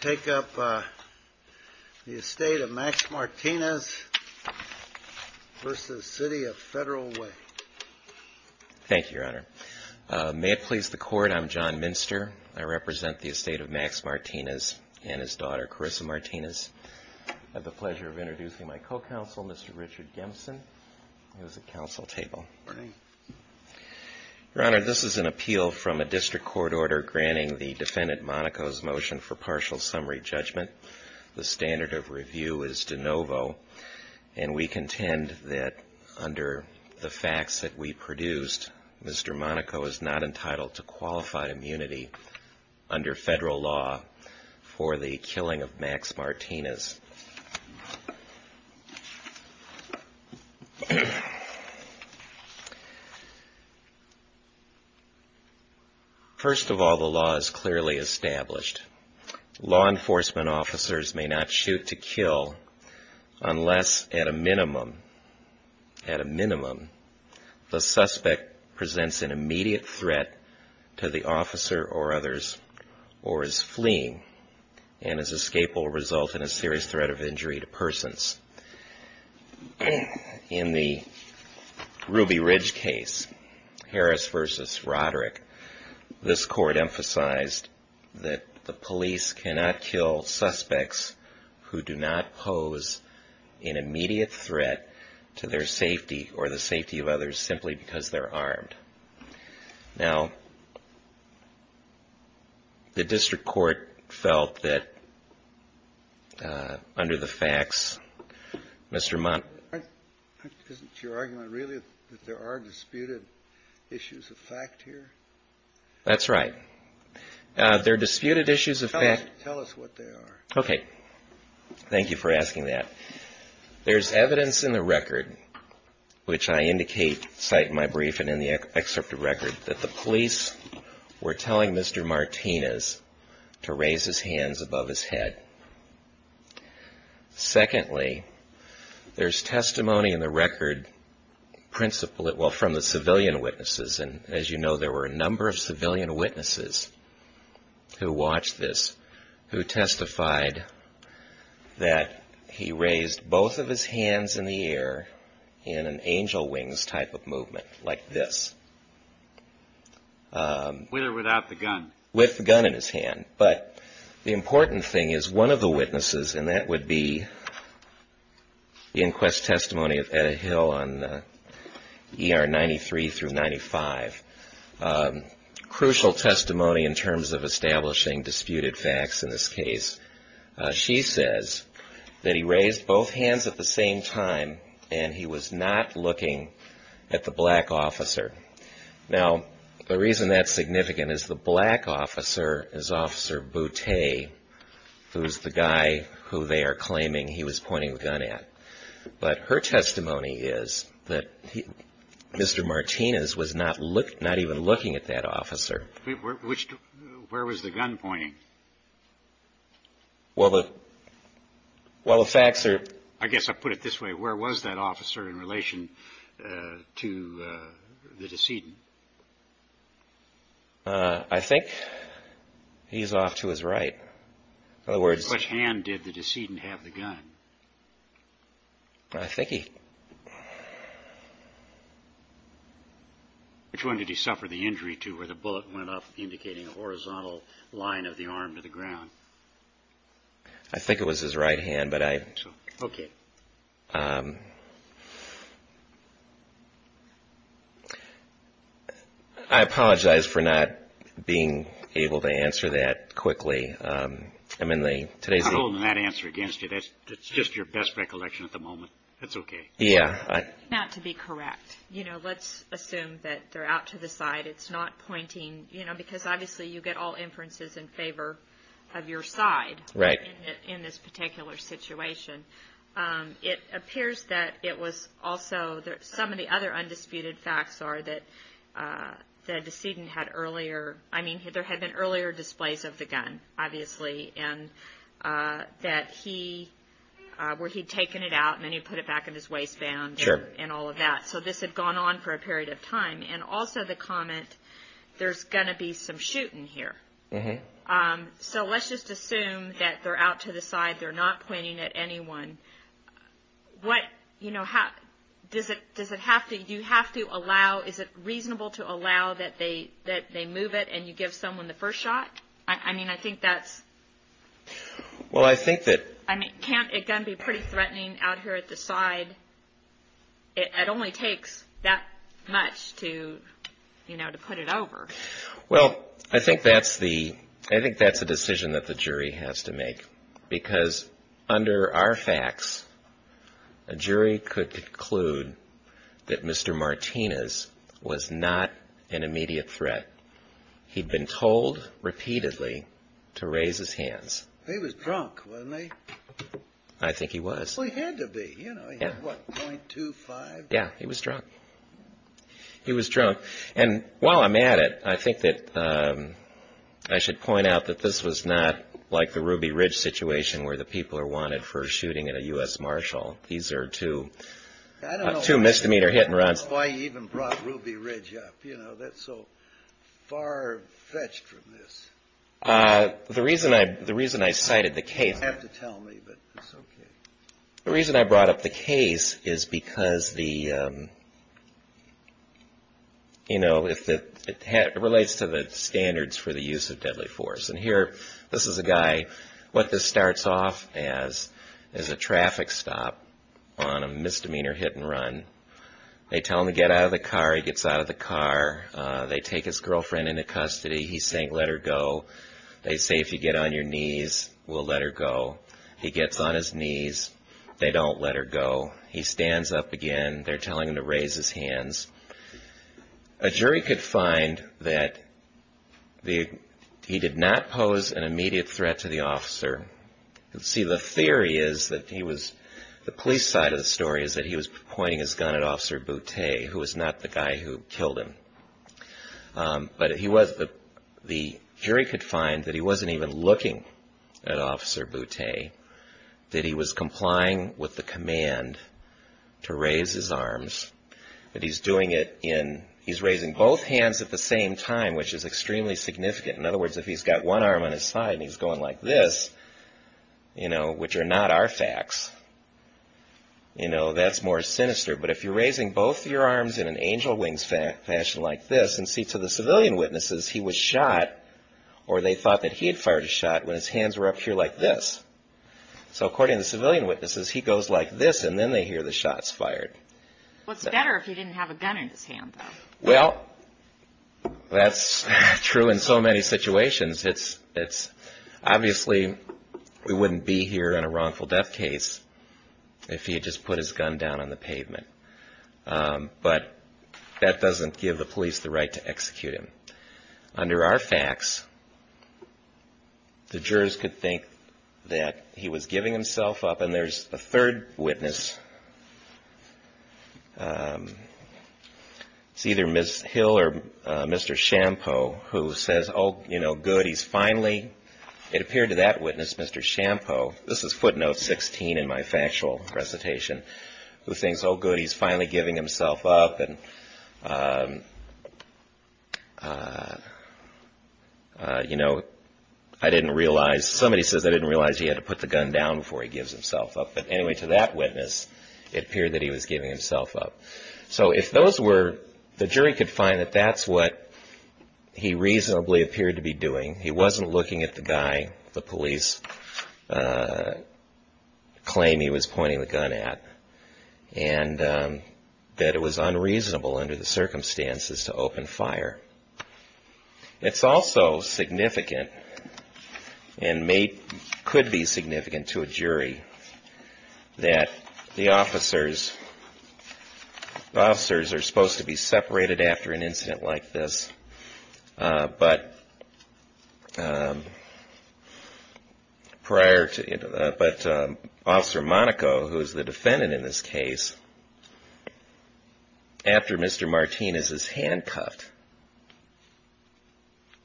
Thank you, Your Honor. May it please the Court, I'm John Minster. I represent the estate of Max Martinez and his daughter, Carissa Martinez. I have the pleasure of introducing my co-counsel, Mr. Richard Gemson, who is at counsel table. Your Honor, this is an appeal from a district court order granting the defendant Monaco's motion for partial summary judgment. The standard of review is de novo, and we contend that under the facts that we produced, Mr. Monaco is not entitled to qualify immunity under federal law for the killing of Max Martinez. First of all, the law is clearly established. Law enforcement officers may not shoot to kill unless, at a minimum, the suspect presents an immediate threat to the officer or others, or is fleeing, and his escape will result in a serious injury. In the Ruby Ridge case, Harris v. Roderick, this court emphasized that the police cannot kill suspects who do not pose an immediate threat to their safety or the safety of others simply because they're armed. Now, the district court felt that, under the facts, Mr. Monaco… Secondly, there's testimony in the record from the civilian witnesses, and as you know, there were a number of civilian witnesses who watched this, who testified that he raised both of his hands in the air in an angel wings position. This is a very serious type of movement, like this. With or without the gun? With the gun in his hand. But the important thing is, one of the witnesses, and that would be the inquest testimony of Edda Hill on ER 93 through 95, crucial testimony in terms of establishing disputed facts in this case. She says that he raised both hands at the same time, and he was not looking at the black officer. Now, the reason that's significant is the black officer is Officer Boutte, who's the guy who they are claiming he was pointing the gun at. But her testimony is that Mr. Martinez was not even looking at that officer. Where was the gun pointing? Well, the facts are… I guess I'll put it this way. Where was that officer in relation to the decedent? I think he's off to his right. By which hand did the decedent have the gun? I think he… Which one did he suffer the injury to where the bullet went up indicating a horizontal line of the arm to the ground? I think it was his right hand, but I… Okay. I apologize for not being able to answer that quickly. I'm holding that answer against you. That's just your best recollection at the moment. That's okay. Not to be correct. You know, let's assume that they're out to the side. It's not pointing… You know, because obviously you get all inferences in favor of your side in this particular situation. It appears that it was also… Some of the other undisputed facts are that the decedent had earlier… I mean, there had been earlier displays of the gun, obviously, and that he… Sure. And all of that. So this had gone on for a period of time. And also the comment, there's going to be some shooting here. So let's just assume that they're out to the side. They're not pointing at anyone. What… You know, does it have to… You have to allow… Is it reasonable to allow that they move it and you give someone the first shot? I mean, I think that's… Well, I think that… I mean, can't a gun be pretty threatening out here at the side? It only takes that much to, you know, to put it over. Well, I think that's the… I think that's a decision that the jury has to make. Because under our facts, a jury could conclude that Mr. Martinez was not an immediate threat. He was drunk, wasn't he? I think he was. Well, he had to be. You know, he had, what, .25? Yeah, he was drunk. He was drunk. And while I'm at it, I think that I should point out that this was not like the Ruby Ridge situation where the people are wanted for shooting at a U.S. Marshal. These are two misdemeanor hit-and-runs. I don't know why you even brought Ruby Ridge up. You know, that's so far fetched from this. The reason I cited the case… You don't have to tell me, but it's okay. The reason I brought up the case is because the… you know, it relates to the standards for the use of deadly force. And here, this is a guy… what this starts off as is a traffic stop on a misdemeanor hit-and-run. They tell him to get out of the car. He gets out of the car. They take his girlfriend into custody. He's saying, let her go. They say, if you get on your knees, we'll let her go. He gets on his knees. They don't let her go. He stands up again. They're telling him to raise his hands. A jury could find that he did not pose an immediate threat to the officer. See, the theory is that he was… the police side of the story is that he was pointing his gun at Officer Boutte, who was not the guy who killed him. But he was… the jury could find that he wasn't even looking at Officer Boutte, that he was complying with the command to raise his arms, that he's doing it in… he's raising both hands at the same time, which is extremely significant. In other words, if he's got one arm on his side and he's going like this, you know, which are not our facts, you know, that's more sinister. But if you're raising both your arms in an angel wings fashion like this, and see, to the civilian witnesses, he was shot, or they thought that he had fired a shot when his hands were up here like this. So according to the civilian witnesses, he goes like this, and then they hear the shots fired. What's better if he didn't have a gun in his hand, though? Well, that's true in so many situations. It's… obviously, we wouldn't be here in a wrongful death case if he had just put his gun down on the pavement. But that doesn't give the police the right to execute him. Under our facts, the jurors could think that he was giving himself up, and there's a third witness. It's either Ms. Hill or Mr. Shampo who says, oh, you know, good, he's finally… it appeared to that witness, Mr. Shampo, this is footnote 16 in my factual recitation, who thinks, oh, good, he's finally giving himself up. You know, I didn't realize… somebody says I didn't realize he had to put the gun down before he gives himself up. But anyway, to that witness, it appeared that he was giving himself up. So if those were… the jury could find that that's what he reasonably appeared to be doing. He wasn't looking at the guy the police claim he was pointing the gun at, and that it was unreasonable under the circumstances to open fire. It's also significant, and may… could be significant to a jury, that the officers… the officers are supposed to be separated after an incident like this. But prior to… but Officer Monaco, who is the defendant in this case, after Mr. Martinez is handcuffed,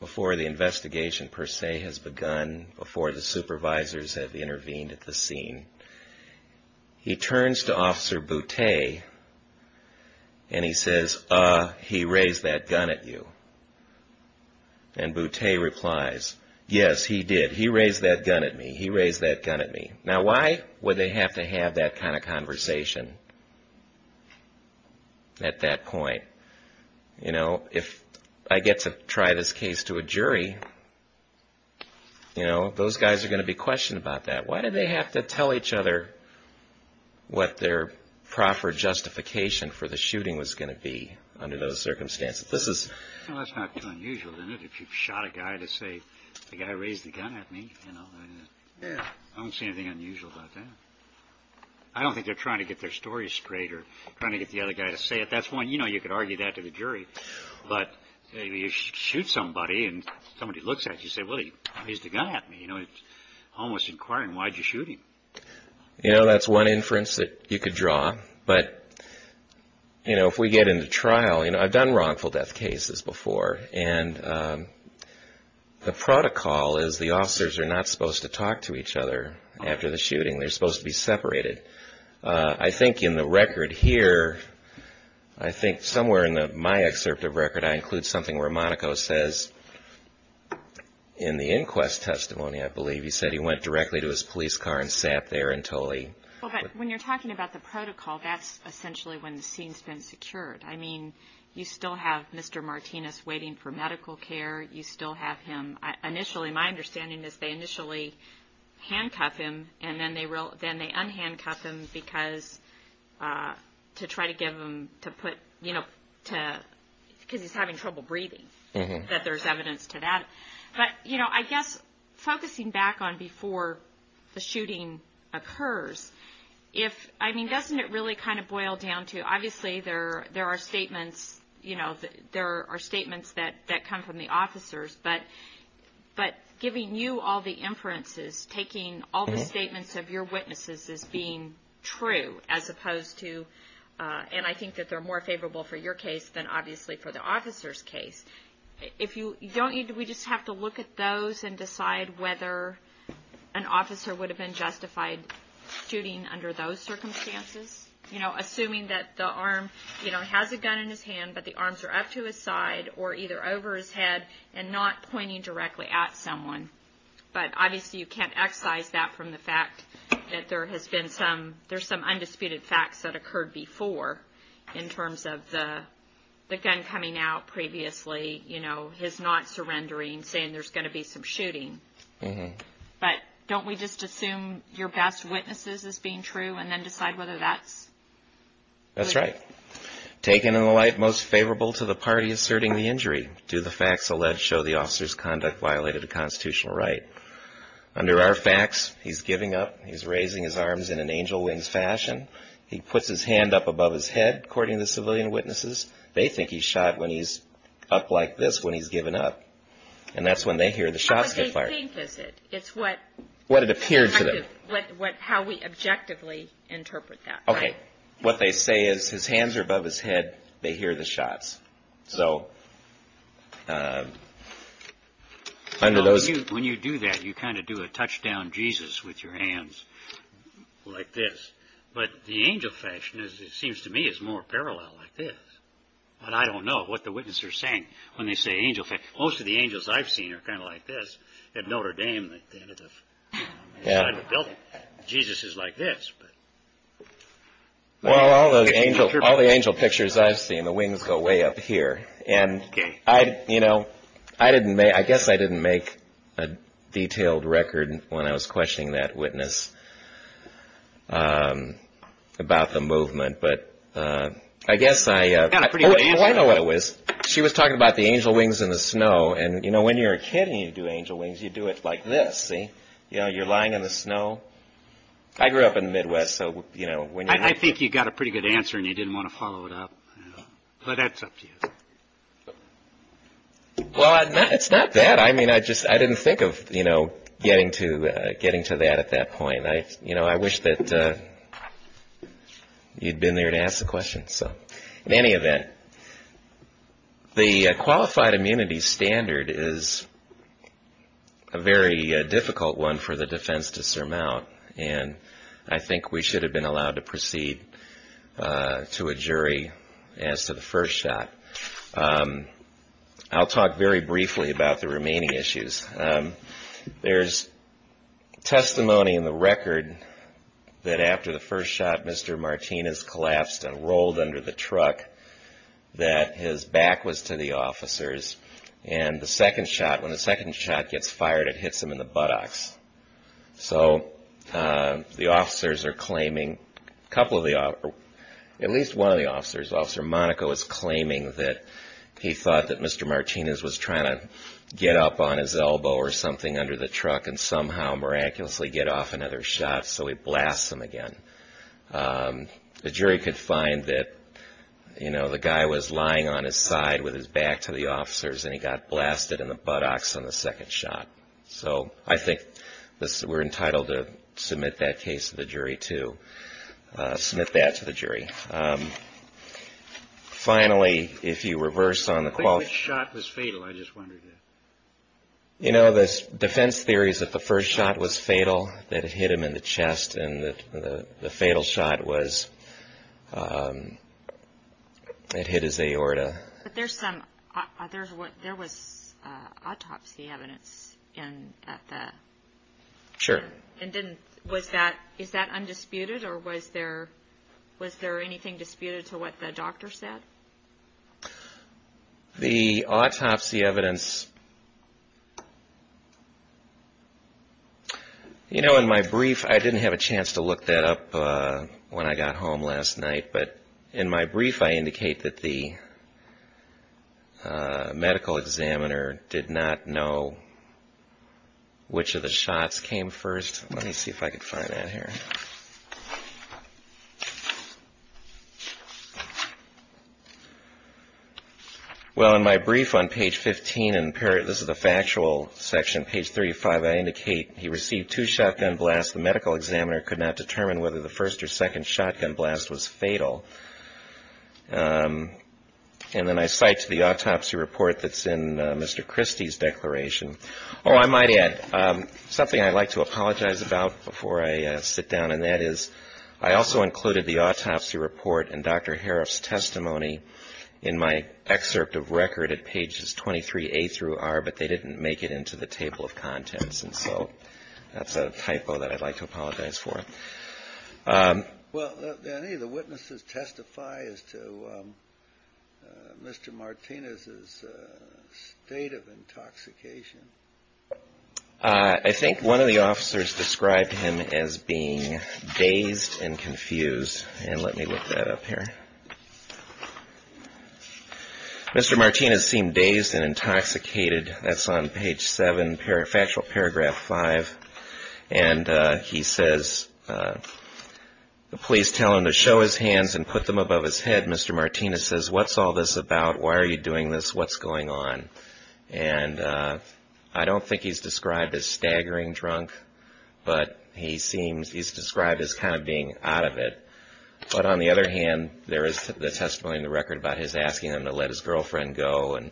before the investigation per se has begun, before the supervisors have intervened at the scene, he turns to Officer Boutte, and he says, uh, he raised that gun at you. And Boutte replies, yes, he did. He raised that gun at me. He raised that gun at me. Now, why would they have to have that kind of conversation at that point? You know, if I get to try this case to a jury, you know, those guys are going to be questioned about that. Why do they have to tell each other what their proper justification for the shooting was going to be under those circumstances? This is… Well, that's not too unusual, isn't it? If you shot a guy to say, the guy raised the gun at me, you know, I don't see anything unusual about that. I don't think they're trying to get their story straight or trying to get the other guy to say it. That's one, you know, you could argue that to the jury. But if you shoot somebody and somebody looks at you and says, well, he raised the gun at me, you know, it's almost inquiring, why'd you shoot him? You know, that's one inference that you could draw. But, you know, if we get into trial, you know, I've done wrongful death cases before, and the protocol is the officers are not supposed to talk to each other after the shooting. They're supposed to be separated. I think in the record here, I think somewhere in my excerpt of record, I include something where Monaco says, in the inquest testimony, I believe, he said he went directly to his police car and sat there until he… Well, but when you're talking about the protocol, that's essentially when the scene's been secured. I mean, you still have Mr. Martinez waiting for medical care. You still have him… Initially, my understanding is they initially handcuff him, and then they unhandcuff him because to try to give him to put, you know, because he's having trouble breathing, that there's evidence to that. But, you know, I guess focusing back on before the shooting occurs, if, I mean, doesn't it really kind of boil down to, obviously, there are statements, you know, there are statements that come from the officers, but giving you all the inferences, taking all the statements of your witnesses as being true, as opposed to… And I think that they're more favorable for your case than, obviously, for the officer's case. If you… Don't we just have to look at those and decide whether an officer would have been justified shooting under those circumstances? You know, assuming that the arm, you know, has a gun in his hand, but the arms are up to his side or either over his head and not pointing directly at someone. But, obviously, you can't excise that from the fact that there has been some… There's some undisputed facts that occurred before, in terms of the gun coming out previously, you know, his not surrendering, saying there's going to be some shooting. But don't we just assume your best witnesses as being true and then decide whether that's… That's right. Taken in the light most favorable to the party asserting the injury. Do the facts alleged show the officer's conduct violated the constitutional right? Under our facts, he's giving up. He's raising his arms in an angel wings fashion. He puts his hand up above his head, according to the civilian witnesses. They think he shot when he's up like this, when he's given up. And that's when they hear the shots get fired. What they think is it. It's what… What it appeared to them. How we objectively interpret that. Okay. What they say is his hands are above his head. They hear the shots. So, under those… When you do that, you kind of do a touchdown Jesus with your hands. Like this. But the angel fashion, it seems to me, is more parallel like this. But I don't know what the witnesses are saying when they say angel… Most of the angels I've seen are kind of like this. At Notre Dame, at the end of the building. Jesus is like this. Well, all the angel pictures I've seen, the wings go way up here. And I, you know, I didn't make… I guess I didn't make a detailed record when I was questioning that witness. About the movement. But I guess I… Well, I know what it was. She was talking about the angel wings in the snow. And, you know, when you're a kid and you do angel wings, you do it like this. See? You know, you're lying in the snow. I grew up in the Midwest. I think you got a pretty good answer and you didn't want to follow it up. But that's up to you. Well, it's not that. I mean, I just didn't think of, you know, getting to that at that point. You know, I wish that you'd been there to ask the question. In any event, the qualified immunity standard is a very difficult one for the defense to surmount. And I think we should have been allowed to proceed to a jury as to the first shot. I'll talk very briefly about the remaining issues. There's testimony in the record that after the first shot, Mr. Martinez collapsed and rolled under the truck. That his back was to the officers. And the second shot, when the second shot gets fired, it hits him in the buttocks. So the officers are claiming, at least one of the officers, Officer Monaco, is claiming that he thought that Mr. Martinez was trying to get up on his elbow or something under the truck and somehow miraculously get off another shot, so he blasts him again. The jury could find that, you know, the guy was lying on his side with his back to the officers and he got blasted in the buttocks on the second shot. So I think we're entitled to submit that case to the jury, too. Submit that to the jury. Finally, if you reverse on the quali... Which shot was fatal, I just wondered. You know, the defense theory is that the first shot was fatal, that it hit him in the chest, and the fatal shot was, it hit his aorta. But there's some, there was autopsy evidence at the... Sure. Was that, is that undisputed or was there anything disputed to what the doctor said? The autopsy evidence... You know, in my brief, I didn't have a chance to look that up when I got home last night, but in my brief, I indicate that the medical examiner did not know which of the shots came first. Let me see if I can find that here. Well, in my brief on page 15, and this is the factual section, page 35, I indicate he received two shotgun blasts. The medical examiner could not determine whether the first or second shotgun blast was fatal. And then I cite the autopsy report that's in Mr. Christie's declaration. Oh, I might add, something I'd like to apologize about before I sit down, and that is I also included the autopsy report and Dr. Harroff's testimony in my excerpt of record at pages 23A through R, but they didn't make it into the table of contents. And so that's a typo that I'd like to apologize for. Well, did any of the witnesses testify as to Mr. Martinez's state of intoxication? I think one of the officers described him as being dazed and confused. And let me look that up here. Mr. Martinez seemed dazed and intoxicated. That's on page 7, factual paragraph 5. And he says, the police tell him to show his hands and put them above his head. Mr. Martinez says, what's all this about? Why are you doing this? What's going on? And I don't think he's described as staggering drunk, but he's described as kind of being out of it. But on the other hand, there is the testimony in the record about his asking him to let his girlfriend go, and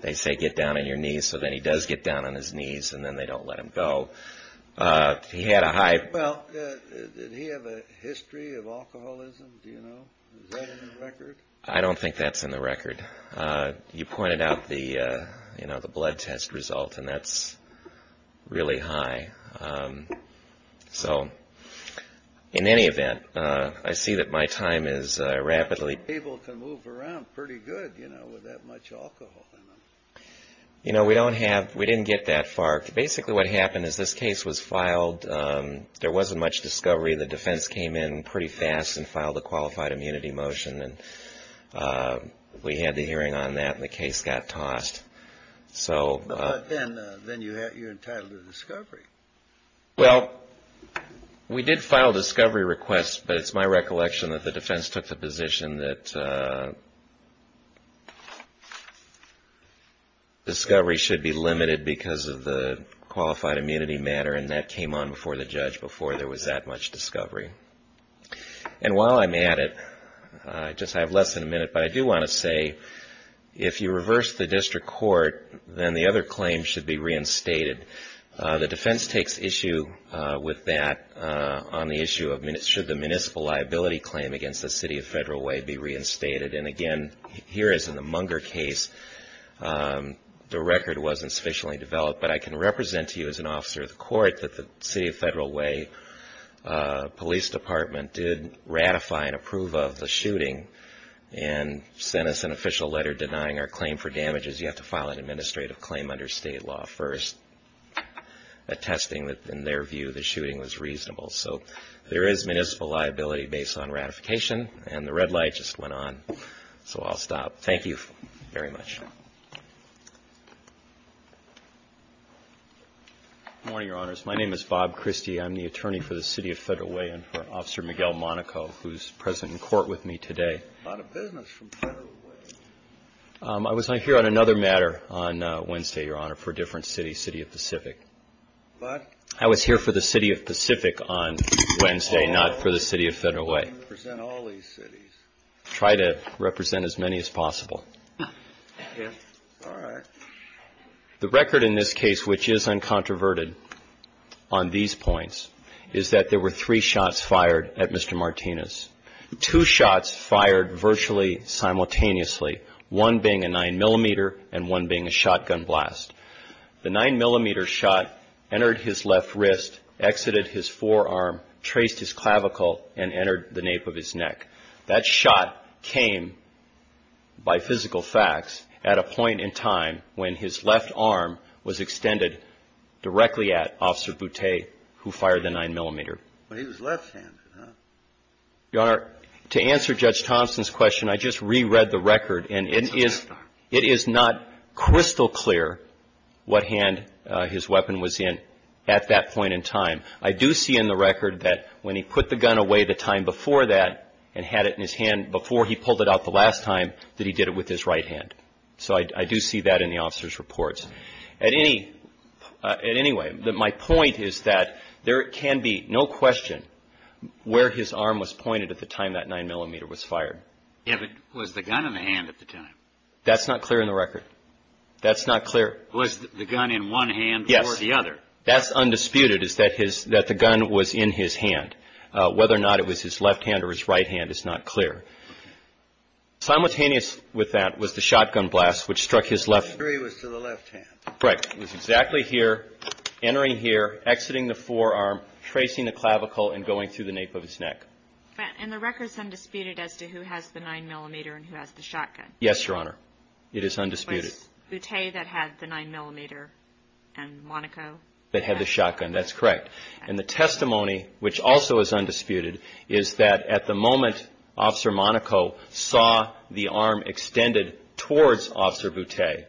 they say, get down on your knees. So then he does get down on his knees, and then they don't let him go. He had a high... Well, did he have a history of alcoholism? Do you know? Is that in the record? I don't think that's in the record. You pointed out the blood test result, and that's really high. So in any event, I see that my time is rapidly... People can move around pretty good, you know, with that much alcohol in them. You know, we don't have... we didn't get that far. Basically, what happened is this case was filed. There wasn't much discovery. The defense came in pretty fast and filed a qualified immunity motion, and we had the hearing on that, and the case got tossed. Then you're entitled to discovery. Well, we did file a discovery request, but it's my recollection that the defense took the position that discovery should be limited because of the qualified immunity matter, and that came on before the judge, before there was that much discovery. And while I'm at it, I just have less than a minute, but I do want to say, if you reverse the district court, then the other claim should be reinstated. The defense takes issue with that on the issue of, should the municipal liability claim against the City of Federal Way be reinstated? And again, here as in the Munger case, the record wasn't sufficiently developed, but I can represent to you as an officer of the court that the City of Federal Way Police Department did ratify and approve of the shooting and sent us an official letter denying our claim for damages. You have to file an administrative claim under state law first, attesting that, in their view, the shooting was reasonable. So there is municipal liability based on ratification, and the red light just went on, so I'll stop. Thank you very much. Good morning, Your Honors. My name is Bob Christie. I'm the attorney for the City of Federal Way and for Officer Miguel Monaco, who's present in court with me today. About a business from Federal Way. I was not here on another matter on Wednesday, Your Honor, for a different city, City of Pacific. But? I was here for the City of Pacific on Wednesday, not for the City of Federal Way. I can represent all these cities. Try to represent as many as possible. Yes. All right. The record in this case, which is uncontroverted on these points, is that there were three shots fired at Mr. Martinez. Two shots fired virtually simultaneously, one being a 9mm and one being a shotgun blast. The 9mm shot entered his left wrist, exited his forearm, traced his clavicle, and entered the nape of his neck. That shot came, by physical facts, at a point in time when his left arm was extended directly at Officer Boutte, who fired the 9mm. But he was left-handed, huh? Your Honor, to answer Judge Thompson's question, I just re-read the record, and it is not crystal clear what hand his weapon was in at that point in time. I do see in the record that when he put the gun away the time before that and had it in his hand before he pulled it out the last time, that he did it with his right hand. So I do see that in the officer's reports. Anyway, my point is that there can be no question where his arm was pointed at the time that 9mm was fired. Yeah, but was the gun in the hand at the time? That's not clear in the record. That's not clear. Was the gun in one hand or the other? Yes. That's undisputed, is that the gun was in his hand. Whether or not it was his left hand or his right hand is not clear. Simultaneous with that was the shotgun blast, which struck his left… Correct. It was exactly here, entering here, exiting the forearm, tracing the clavicle and going through the nape of his neck. And the record is undisputed as to who has the 9mm and who has the shotgun? It is undisputed. Was Boutte that had the 9mm and Monaco? That had the shotgun, that's correct. And the testimony, which also is undisputed, is that at the moment Officer Monaco saw the arm extended towards Officer Boutte,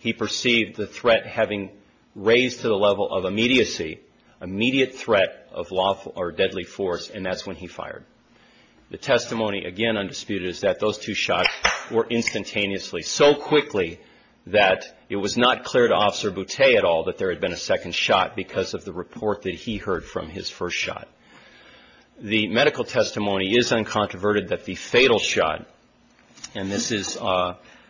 he perceived the threat having raised to the level of immediacy, immediate threat of lawful or deadly force, and that's when he fired. The testimony, again undisputed, is that those two shots were instantaneously, so quickly that it was not clear to Officer Boutte at all that there had been a second shot because of the report that he heard from his first shot. The medical testimony is uncontroverted that the fatal shot, and this is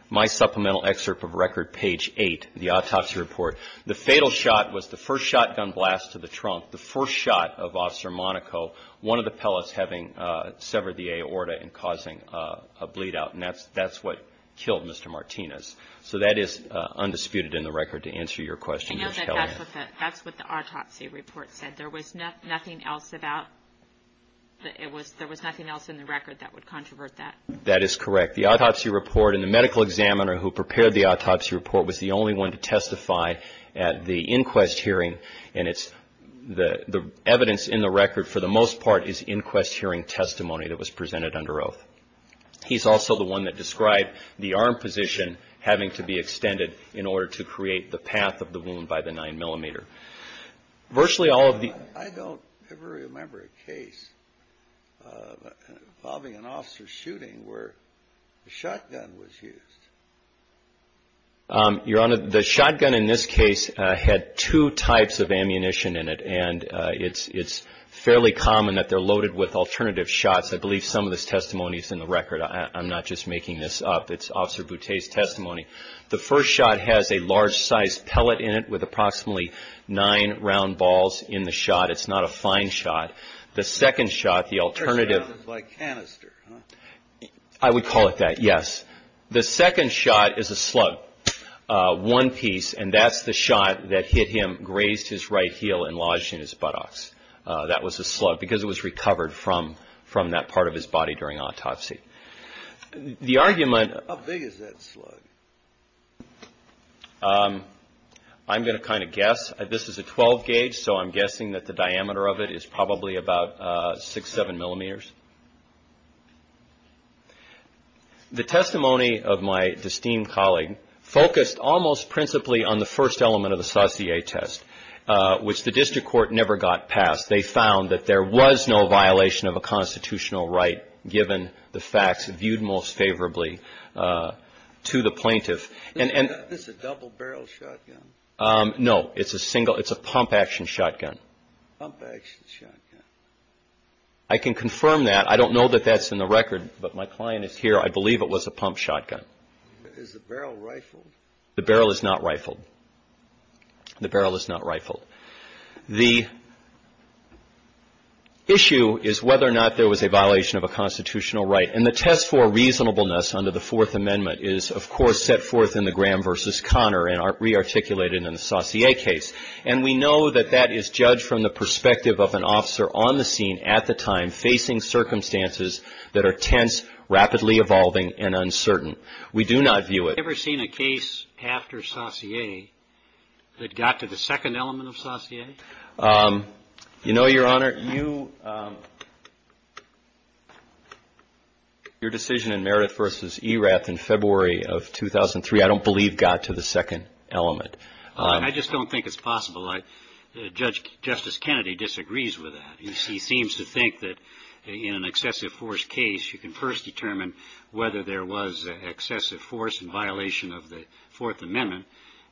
my supplemental excerpt of record page 8, the autopsy report, the fatal shot was the first shotgun blast to the trunk, the first shot of Officer Monaco, one of the pellets having severed the aorta and causing a bleed out, and that's what killed Mr. Martinez. So that is undisputed in the record to answer your question. I know that that's what the autopsy report said. There was nothing else in the record that would controvert that. That is correct. The autopsy report and the medical examiner who prepared the autopsy report was the only one to testify at the inquest hearing, and the evidence in the record for the most part is inquest hearing testimony that was presented under oath. He's also the one that described the arm position having to be extended in order to create the path of the wound by the 9 millimeter. I don't ever remember a case involving an officer shooting where a shotgun was used. Your Honor, the shotgun in this case had two types of ammunition in it, and it's fairly common that they're loaded with alternative shots. I believe some of this testimony is in the record. I'm not just making this up. It's Officer Boutte's testimony. The first shot has a large-sized pellet in it with approximately nine round balls in the shot. It's not a fine shot. The second shot, the alternative. A shotgun is like canister, huh? I would call it that, yes. The second shot is a slug, one piece, and that's the shot that hit him, grazed his right heel, and lodged in his buttocks. That was a slug because it was recovered from that part of his body during autopsy. The argument. How big is that slug? I'm going to kind of guess. This is a 12 gauge, so I'm guessing that the diameter of it is probably about 6, 7 millimeters. The testimony of my esteemed colleague focused almost principally on the first element of the Saussure test, which the district court never got passed. They found that there was no violation of a constitutional right given the facts viewed most favorably to the plaintiff. Is this a double-barrel shotgun? No. It's a pump-action shotgun. Pump-action shotgun. I can confirm that. I don't know that that's in the record, but my client is here. I believe it was a pump shotgun. Is the barrel rifled? The barrel is not rifled. The barrel is not rifled. The issue is whether or not there was a violation of a constitutional right, and the test for reasonableness under the Fourth Amendment is, of course, set forth in the Graham v. Connor and rearticulated in the Saussure case, and we know that that is judged from the perspective of an officer on the scene at the time facing circumstances that are tense, rapidly evolving, and uncertain. We do not view it. Is there evidence after Saussure that got to the second element of Saussure? You know, Your Honor, your decision in Meredith v. Erath in February of 2003 I don't believe got to the second element. I just don't think it's possible. Judge Justice Kennedy disagrees with that. He seems to think that in an excessive force case, you can first determine whether there was excessive force in violation of the Fourth Amendment,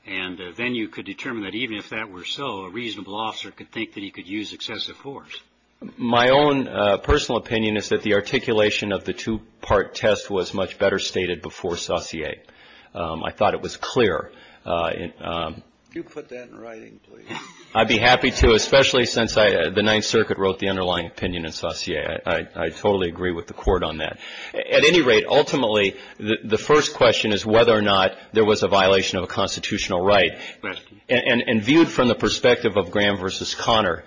and then you could determine that even if that were so, a reasonable officer could think that he could use excessive force. My own personal opinion is that the articulation of the two-part test was much better stated before Saussure. I thought it was clear. Could you put that in writing, please? I'd be happy to, especially since the Ninth Circuit wrote the underlying opinion in Saussure. Yeah, I totally agree with the Court on that. At any rate, ultimately, the first question is whether or not there was a violation of a constitutional right. And viewed from the perspective of Graham v. Conner,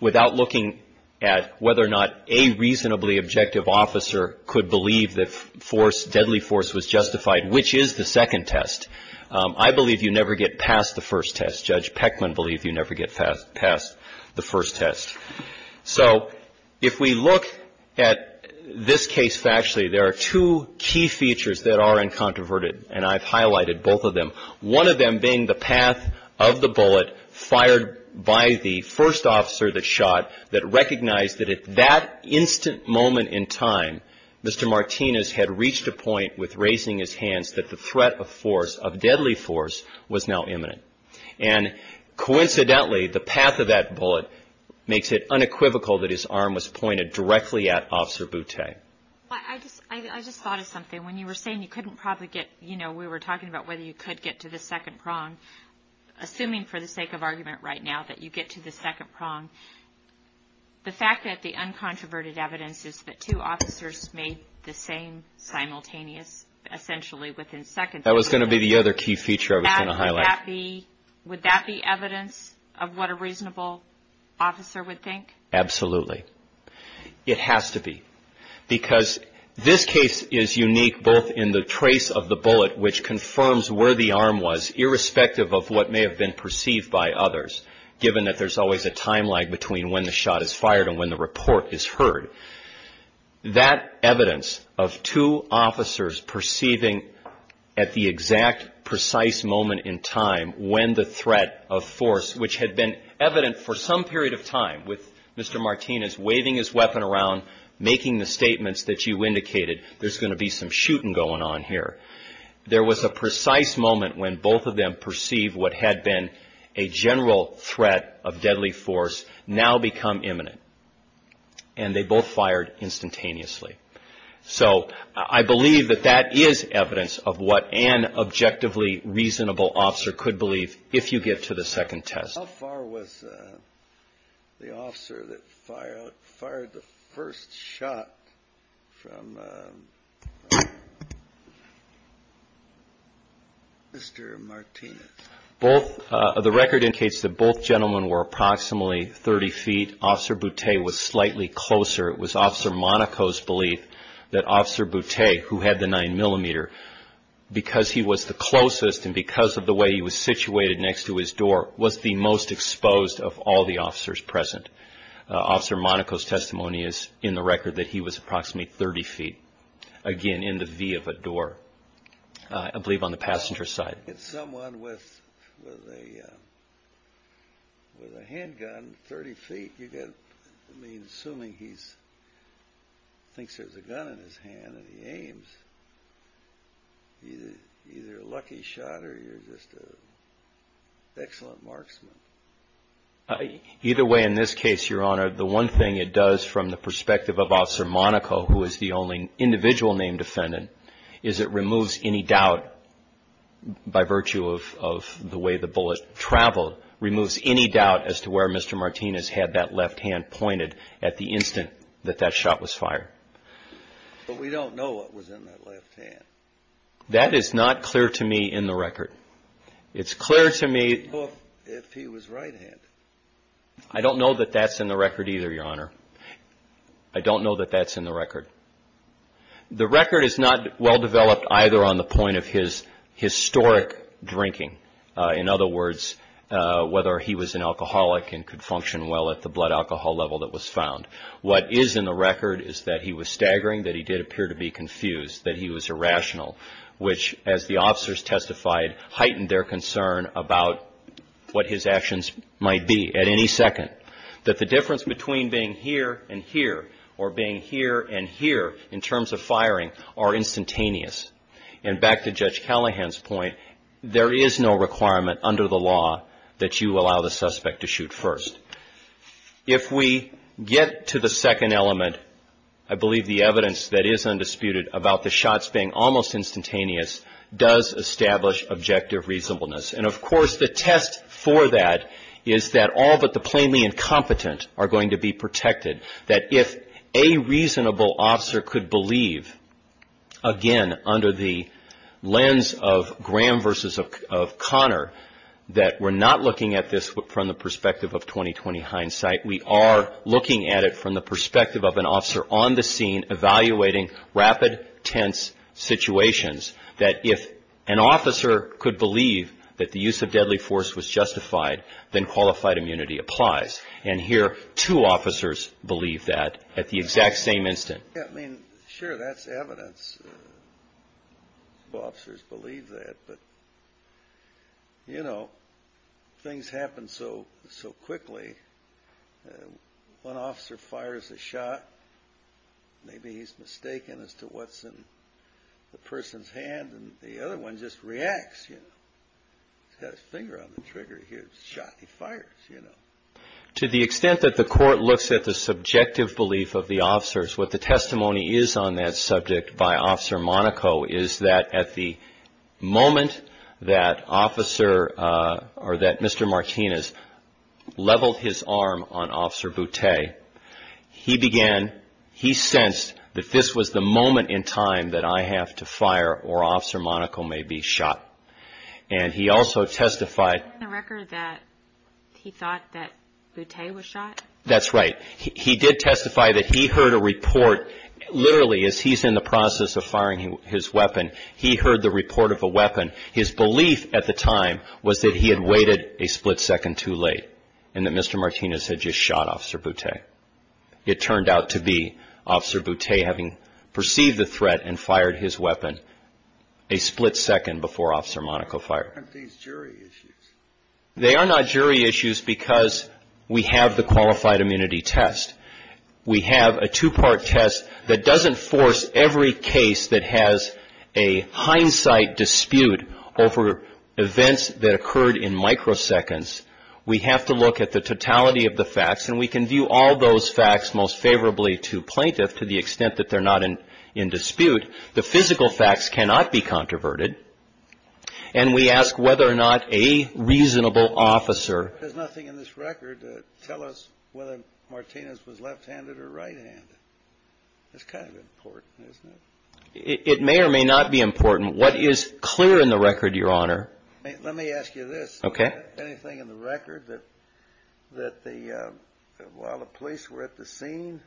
without looking at whether or not a reasonably objective officer could believe that force, deadly force was justified, which is the second test, I believe you never get past the first test. Judge Peckman believed you never get past the first test. So if we look at this case factually, there are two key features that are uncontroverted, and I've highlighted both of them, one of them being the path of the bullet fired by the first officer that shot that recognized that at that instant moment in time, Mr. Martinez had reached a point with raising his hands that the threat of force, of deadly force, was now imminent. And coincidentally, the path of that bullet makes it unequivocal that his arm was pointed directly at Officer Boutte. I just thought of something. When you were saying you couldn't probably get, you know, we were talking about whether you could get to the second prong, assuming for the sake of argument right now that you get to the second prong, the fact that the uncontroverted evidence is that two officers made the same simultaneous, essentially within seconds. That was going to be the other key feature I was going to highlight. Would that be evidence of what a reasonable officer would think? Absolutely. It has to be, because this case is unique both in the trace of the bullet, which confirms where the arm was, irrespective of what may have been perceived by others, given that there's always a time lag between when the shot is fired and when the report is heard. That evidence of two officers perceiving at the exact precise moment in time when the threat of force, which had been evident for some period of time with Mr. Martinez waving his weapon around, making the statements that you indicated, there's going to be some shooting going on here. There was a precise moment when both of them perceived what had been a general threat of deadly force now become imminent. And they both fired instantaneously. So I believe that that is evidence of what an objectively reasonable officer could believe if you get to the second test. How far was the officer that fired the first shot from Mr. Martinez? The record indicates that both gentlemen were approximately 30 feet. Officer Boutte was slightly closer. It was Officer Monaco's belief that Officer Boutte, who had the 9mm, because he was the closest and because of the way he was situated next to his door, was the most exposed of all the officers present. Officer Monaco's testimony is in the record that he was approximately 30 feet, again, in the V of a door, I believe on the passenger side. If you hit someone with a handgun 30 feet, I mean, assuming he thinks there's a gun in his hand and he aims, either a lucky shot or you're just an excellent marksman. Either way, in this case, Your Honor, the one thing it does from the perspective of Officer Monaco, who is the only individual named defendant, is it removes any doubt by virtue of the way the bullet traveled, removes any doubt as to where Mr. Martinez had that left hand pointed at the instant that that shot was fired. But we don't know what was in that left hand. That is not clear to me in the record. It's clear to me... Well, if he was right-handed. I don't know that that's in the record either, Your Honor. I don't know that that's in the record. The record is not well-developed either on the point of his historic drinking. In other words, whether he was an alcoholic and could function well at the blood alcohol level that was found. What is in the record is that he was staggering, that he did appear to be confused, that he was irrational, which, as the officers testified, heightened their concern about what his actions might be at any second. That the difference between being here and here or being here and here in terms of firing are instantaneous. And back to Judge Callahan's point, there is no requirement under the law that you allow the suspect to shoot first. If we get to the second element, I believe the evidence that is undisputed about the shots being almost instantaneous does establish objective reasonableness. And, of course, the test for that is that all but the plainly incompetent are going to be protected. That if a reasonable officer could believe, again, under the lens of Graham versus Connor, that we're not looking at this from the perspective of 20-20 hindsight. We are looking at it from the perspective of an officer on the scene evaluating rapid, tense situations. That if an officer could believe that the use of deadly force was justified, then qualified immunity applies. And here two officers believe that at the exact same instant. Yeah, I mean, sure, that's evidence. Some officers believe that. But, you know, things happen so quickly. One officer fires a shot. Maybe he's mistaken as to what's in the person's hand. And the other one just reacts, you know. He's got his finger on the trigger. He hears the shot. He fires, you know. To the extent that the court looks at the subjective belief of the officers, what the testimony is on that subject by Officer Monaco is that at the moment that officer or that Mr. Martinez leveled his arm on Officer Boutte, he began, he sensed that this was the moment in time that I have to fire or Officer Monaco may be shot. And he also testified. Isn't the record that he thought that Boutte was shot? That's right. He did testify that he heard a report, literally, as he's in the process of firing his weapon, he heard the report of a weapon. His belief at the time was that he had waited a split second too late and that Mr. Martinez had just shot Officer Boutte. It turned out to be Officer Boutte having perceived the threat and fired his weapon a split second before Officer Monaco fired. Aren't these jury issues? They are not jury issues because we have the qualified immunity test. We have a two-part test that doesn't force every case that has a hindsight dispute over events that occurred in microseconds. We have to look at the totality of the facts, and we can view all those facts most favorably to plaintiff to the extent that they're not in dispute. The physical facts cannot be controverted, and we ask whether or not a reasonable officer There's nothing in this record to tell us whether Martinez was left-handed or right-handed. It's kind of important, isn't it? It may or may not be important. What is clear in the record, Your Honor? Let me ask you this. Okay. Anything in the record that while the police were at the scene,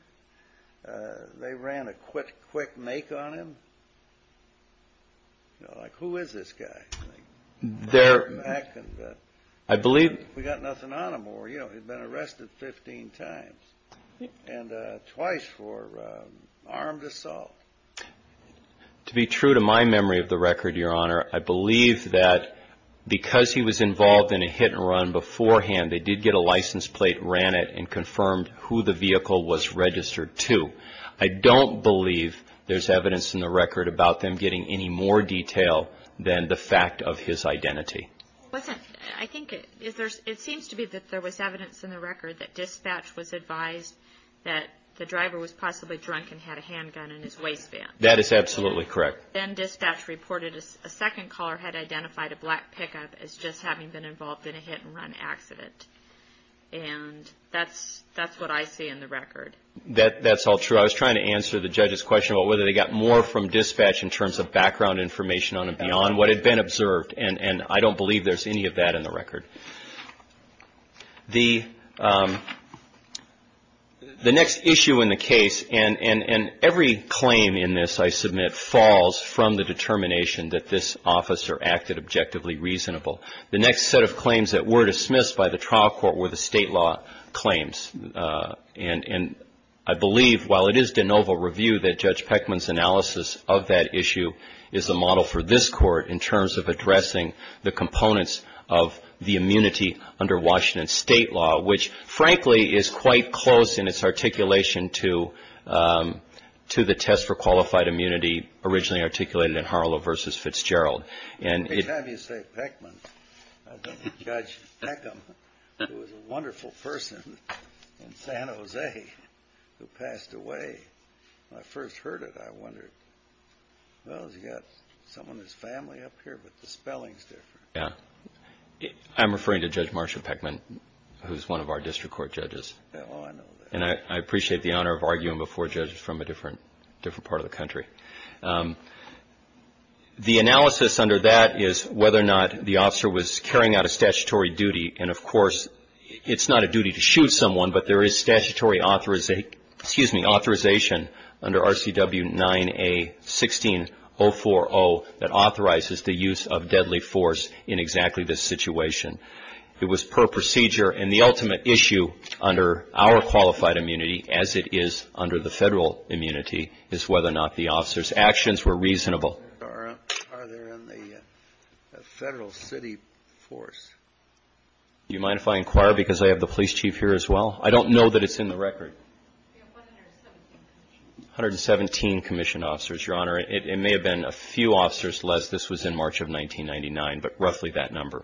they ran a quick make on him? Like, who is this guy? I believe... We got nothing on him, or, you know, he'd been arrested 15 times and twice for armed assault. To be true to my memory of the record, Your Honor, I believe that because he was involved in a hit-and-run beforehand, they did get a license plate, ran it, and confirmed who the vehicle was registered to. I don't believe there's evidence in the record about them getting any more detail than the fact of his identity. Listen, I think it seems to be that there was evidence in the record that dispatch was advised that the driver was possibly drunk and had a handgun in his waistband. That is absolutely correct. Then dispatch reported a second caller had identified a black pickup as just having been involved in a hit-and-run accident, and that's what I see in the record. That's all true. I was trying to answer the judge's question about whether they got more from dispatch in terms of background information on him beyond what had been observed, and I don't believe there's any of that in the record. The next issue in the case, and every claim in this, I submit, falls from the determination that this officer acted objectively reasonable. The next set of claims that were dismissed by the trial court were the state law claims, and I believe, while it is de novo review, that Judge Peckman's analysis of that issue is a model for this Court in terms of addressing the components of the immunity under Washington state law, which, frankly, is quite close in its articulation to the test for qualified immunity originally articulated in Harlow v. Fitzgerald. Every time you say Peckman, I think of Judge Peckham, who was a wonderful person in San Jose who passed away. When I first heard it, I wondered, well, has he got someone in his family up here? But the spelling's different. Yeah. I'm referring to Judge Marsha Peckman, who's one of our district court judges. Oh, I know that. And I appreciate the honor of arguing before judges from a different part of the country. The analysis under that is whether or not the officer was carrying out a statutory duty, and, of course, it's not a duty to shoot someone, but there is statutory authorization under RCW 9A-16040 that authorizes the use of deadly force in exactly this situation. It was per procedure, and the ultimate issue under our qualified immunity, as it is under the federal immunity, is whether or not the officer's actions were reasonable. Are there in the federal city force? Do you mind if I inquire, because I have the police chief here as well? I don't know that it's in the record. We have 117 commission officers. 117 commission officers, Your Honor. It may have been a few officers less. This was in March of 1999, but roughly that number.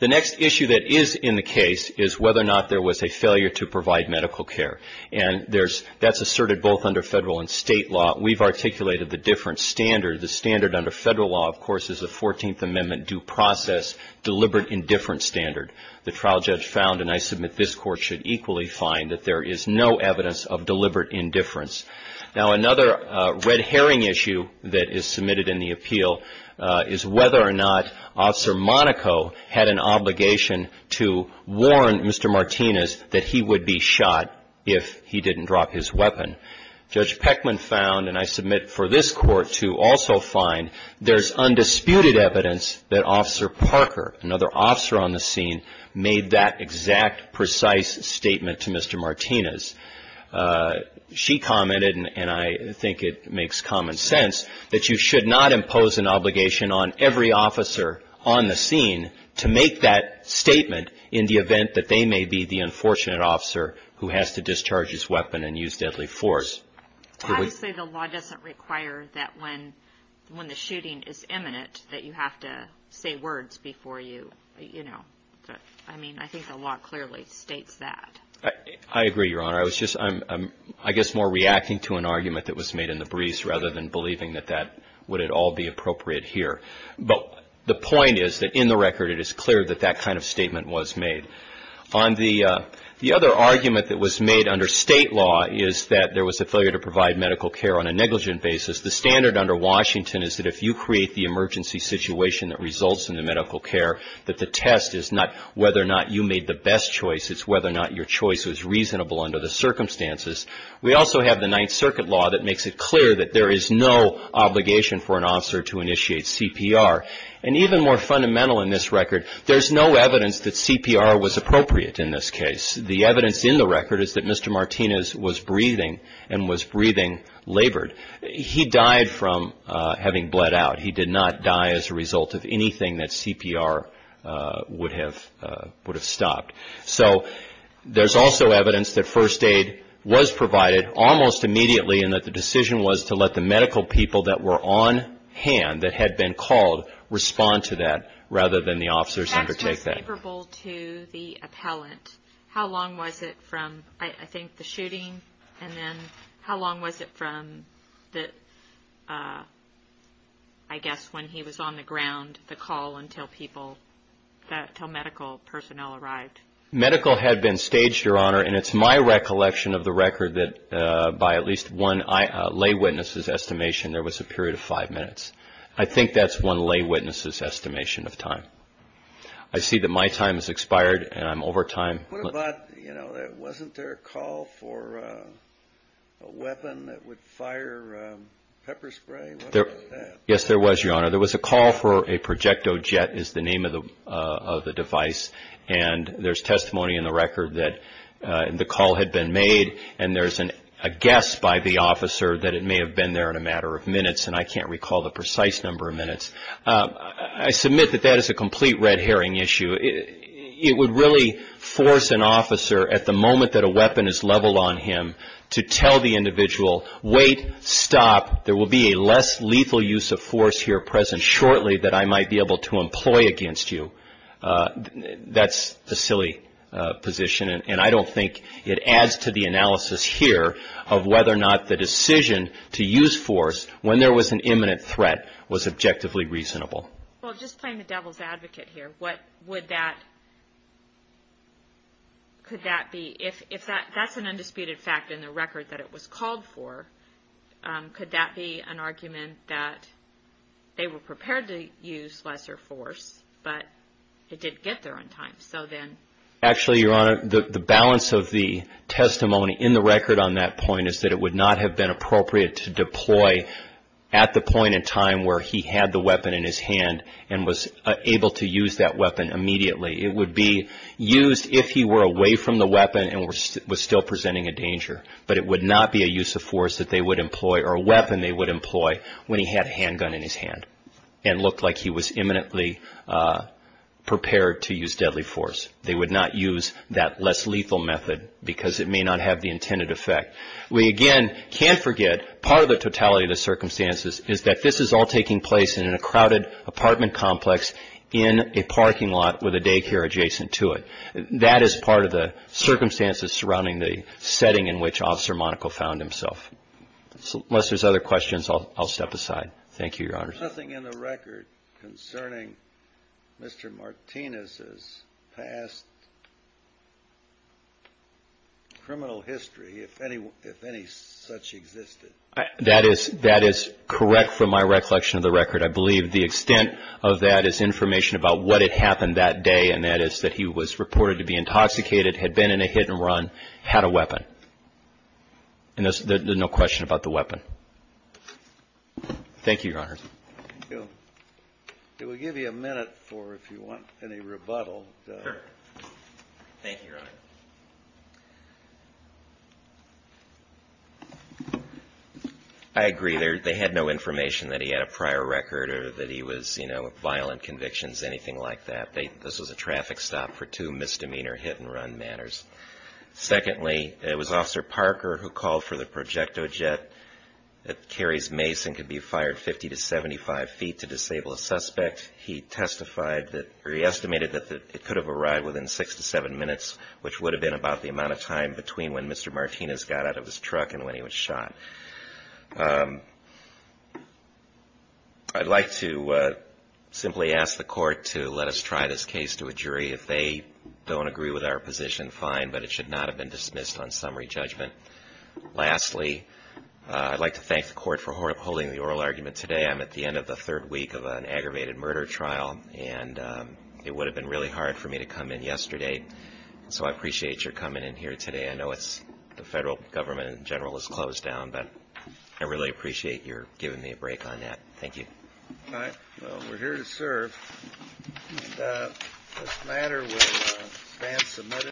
The next issue that is in the case is whether or not there was a failure to provide medical care, and that's asserted both under federal and state law. We've articulated the different standards. The standard under federal law, of course, is the 14th Amendment due process deliberate indifference standard. The trial judge found, and I submit this Court should equally find, that there is no evidence of deliberate indifference. Now, another red herring issue that is submitted in the appeal is whether or not Officer Monaco had an obligation to warn Mr. Martinez that he would be shot if he didn't drop his weapon. Judge Peckman found, and I submit for this Court to also find, there's undisputed evidence that Officer Parker, another officer on the scene, made that exact precise statement to Mr. Martinez. She commented, and I think it makes common sense, that you should not impose an obligation on every officer on the scene to make that statement in the event that they may be the unfortunate officer who has to discharge his weapon and use deadly force. I would say the law doesn't require that when the shooting is imminent, that you have to say words before you, you know. I mean, I think the law clearly states that. I agree, Your Honor. I was just, I guess, more reacting to an argument that was made in the briefs rather than believing that that would at all be appropriate here. But the point is that in the record it is clear that that kind of statement was made. On the other argument that was made under State law is that there was a failure to provide medical care on a negligent basis. The standard under Washington is that if you create the emergency situation that results in the medical care, that the test is not whether or not you made the best choice, it's whether or not your choice was reasonable under the circumstances. We also have the Ninth Circuit law that makes it clear that there is no obligation for an officer to initiate CPR. And even more fundamental in this record, there's no evidence that CPR was appropriate in this case. The evidence in the record is that Mr. Martinez was breathing and was breathing labored. He died from having bled out. He did not die as a result of anything that CPR would have stopped. So there's also evidence that first aid was provided almost immediately and that the decision was to let the medical people that were on hand that had been called respond to that rather than the officers undertake that. If he was favorable to the appellant, how long was it from, I think, the shooting and then how long was it from the, I guess, when he was on the ground, the call until people, until medical personnel arrived? Medical had been staged, Your Honor, and it's my recollection of the record that by at least one lay witness' estimation, there was a period of five minutes. I think that's one lay witness' estimation of time. I see that my time has expired and I'm over time. What about, you know, wasn't there a call for a weapon that would fire pepper spray? What about that? Yes, there was, Your Honor. There was a call for a projectile jet is the name of the device, and there's testimony in the record that the call had been made, and there's a guess by the officer that it may have been there in a matter of minutes, and I can't recall the precise number of minutes. I submit that that is a complete red herring issue. It would really force an officer at the moment that a weapon is leveled on him to tell the individual, wait, stop, there will be a less lethal use of force here present shortly that I might be able to employ against you. That's a silly position, and I don't think it adds to the analysis here of whether or not the decision to use force when there was an imminent threat was objectively reasonable. Well, just playing the devil's advocate here, what would that, could that be, if that's an undisputed fact in the record that it was called for, could that be an argument that they were prepared to use lesser force, but it didn't get there on time? Actually, Your Honor, the balance of the testimony in the record on that point is that it would not have been appropriate to deploy at the point in time where he had the weapon in his hand and was able to use that weapon immediately. It would be used if he were away from the weapon and was still presenting a danger, but it would not be a use of force that they would employ, or a weapon they would employ when he had a handgun in his hand and looked like he was imminently prepared to use deadly force. They would not use that less lethal method because it may not have the intended effect. We, again, can't forget part of the totality of the circumstances is that this is all taking place in a crowded apartment complex in a parking lot with a daycare adjacent to it. That is part of the circumstances surrounding the setting in which Officer Monaco found himself. Unless there's other questions, I'll step aside. Thank you, Your Honor. There's nothing in the record concerning Mr. Martinez's past criminal history, if any such existed. That is correct from my recollection of the record. I believe the extent of that is information about what had happened that day, and that is that he was reported to be intoxicated, had been in a hit-and-run, had a weapon. And there's no question about the weapon. Thank you, Your Honor. Thank you. We'll give you a minute for, if you want, any rebuttal. Sure. Thank you, Your Honor. I agree. They had no information that he had a prior record or that he was, you know, violent convictions, anything like that. This was a traffic stop for two misdemeanor hit-and-run matters. Secondly, it was Officer Parker who called for the projectile jet that carries mace and could be fired 50 to 75 feet to disable a suspect. He testified that, or he estimated that it could have arrived within six to seven minutes, which would have been about the amount of time between when Mr. Martinez got out of his truck and when he was shot. I'd like to simply ask the court to let us try this case to a jury. If they don't agree with our position, fine, but it should not have been dismissed on summary judgment. Lastly, I'd like to thank the court for holding the oral argument today. I'm at the end of the third week of an aggravated murder trial, and it would have been really hard for me to come in yesterday. So I appreciate your coming in here today. I know the federal government in general is closed down, but I really appreciate your giving me a break on that. Thank you. All right. Well, we're here to serve. This matter was advance submitted.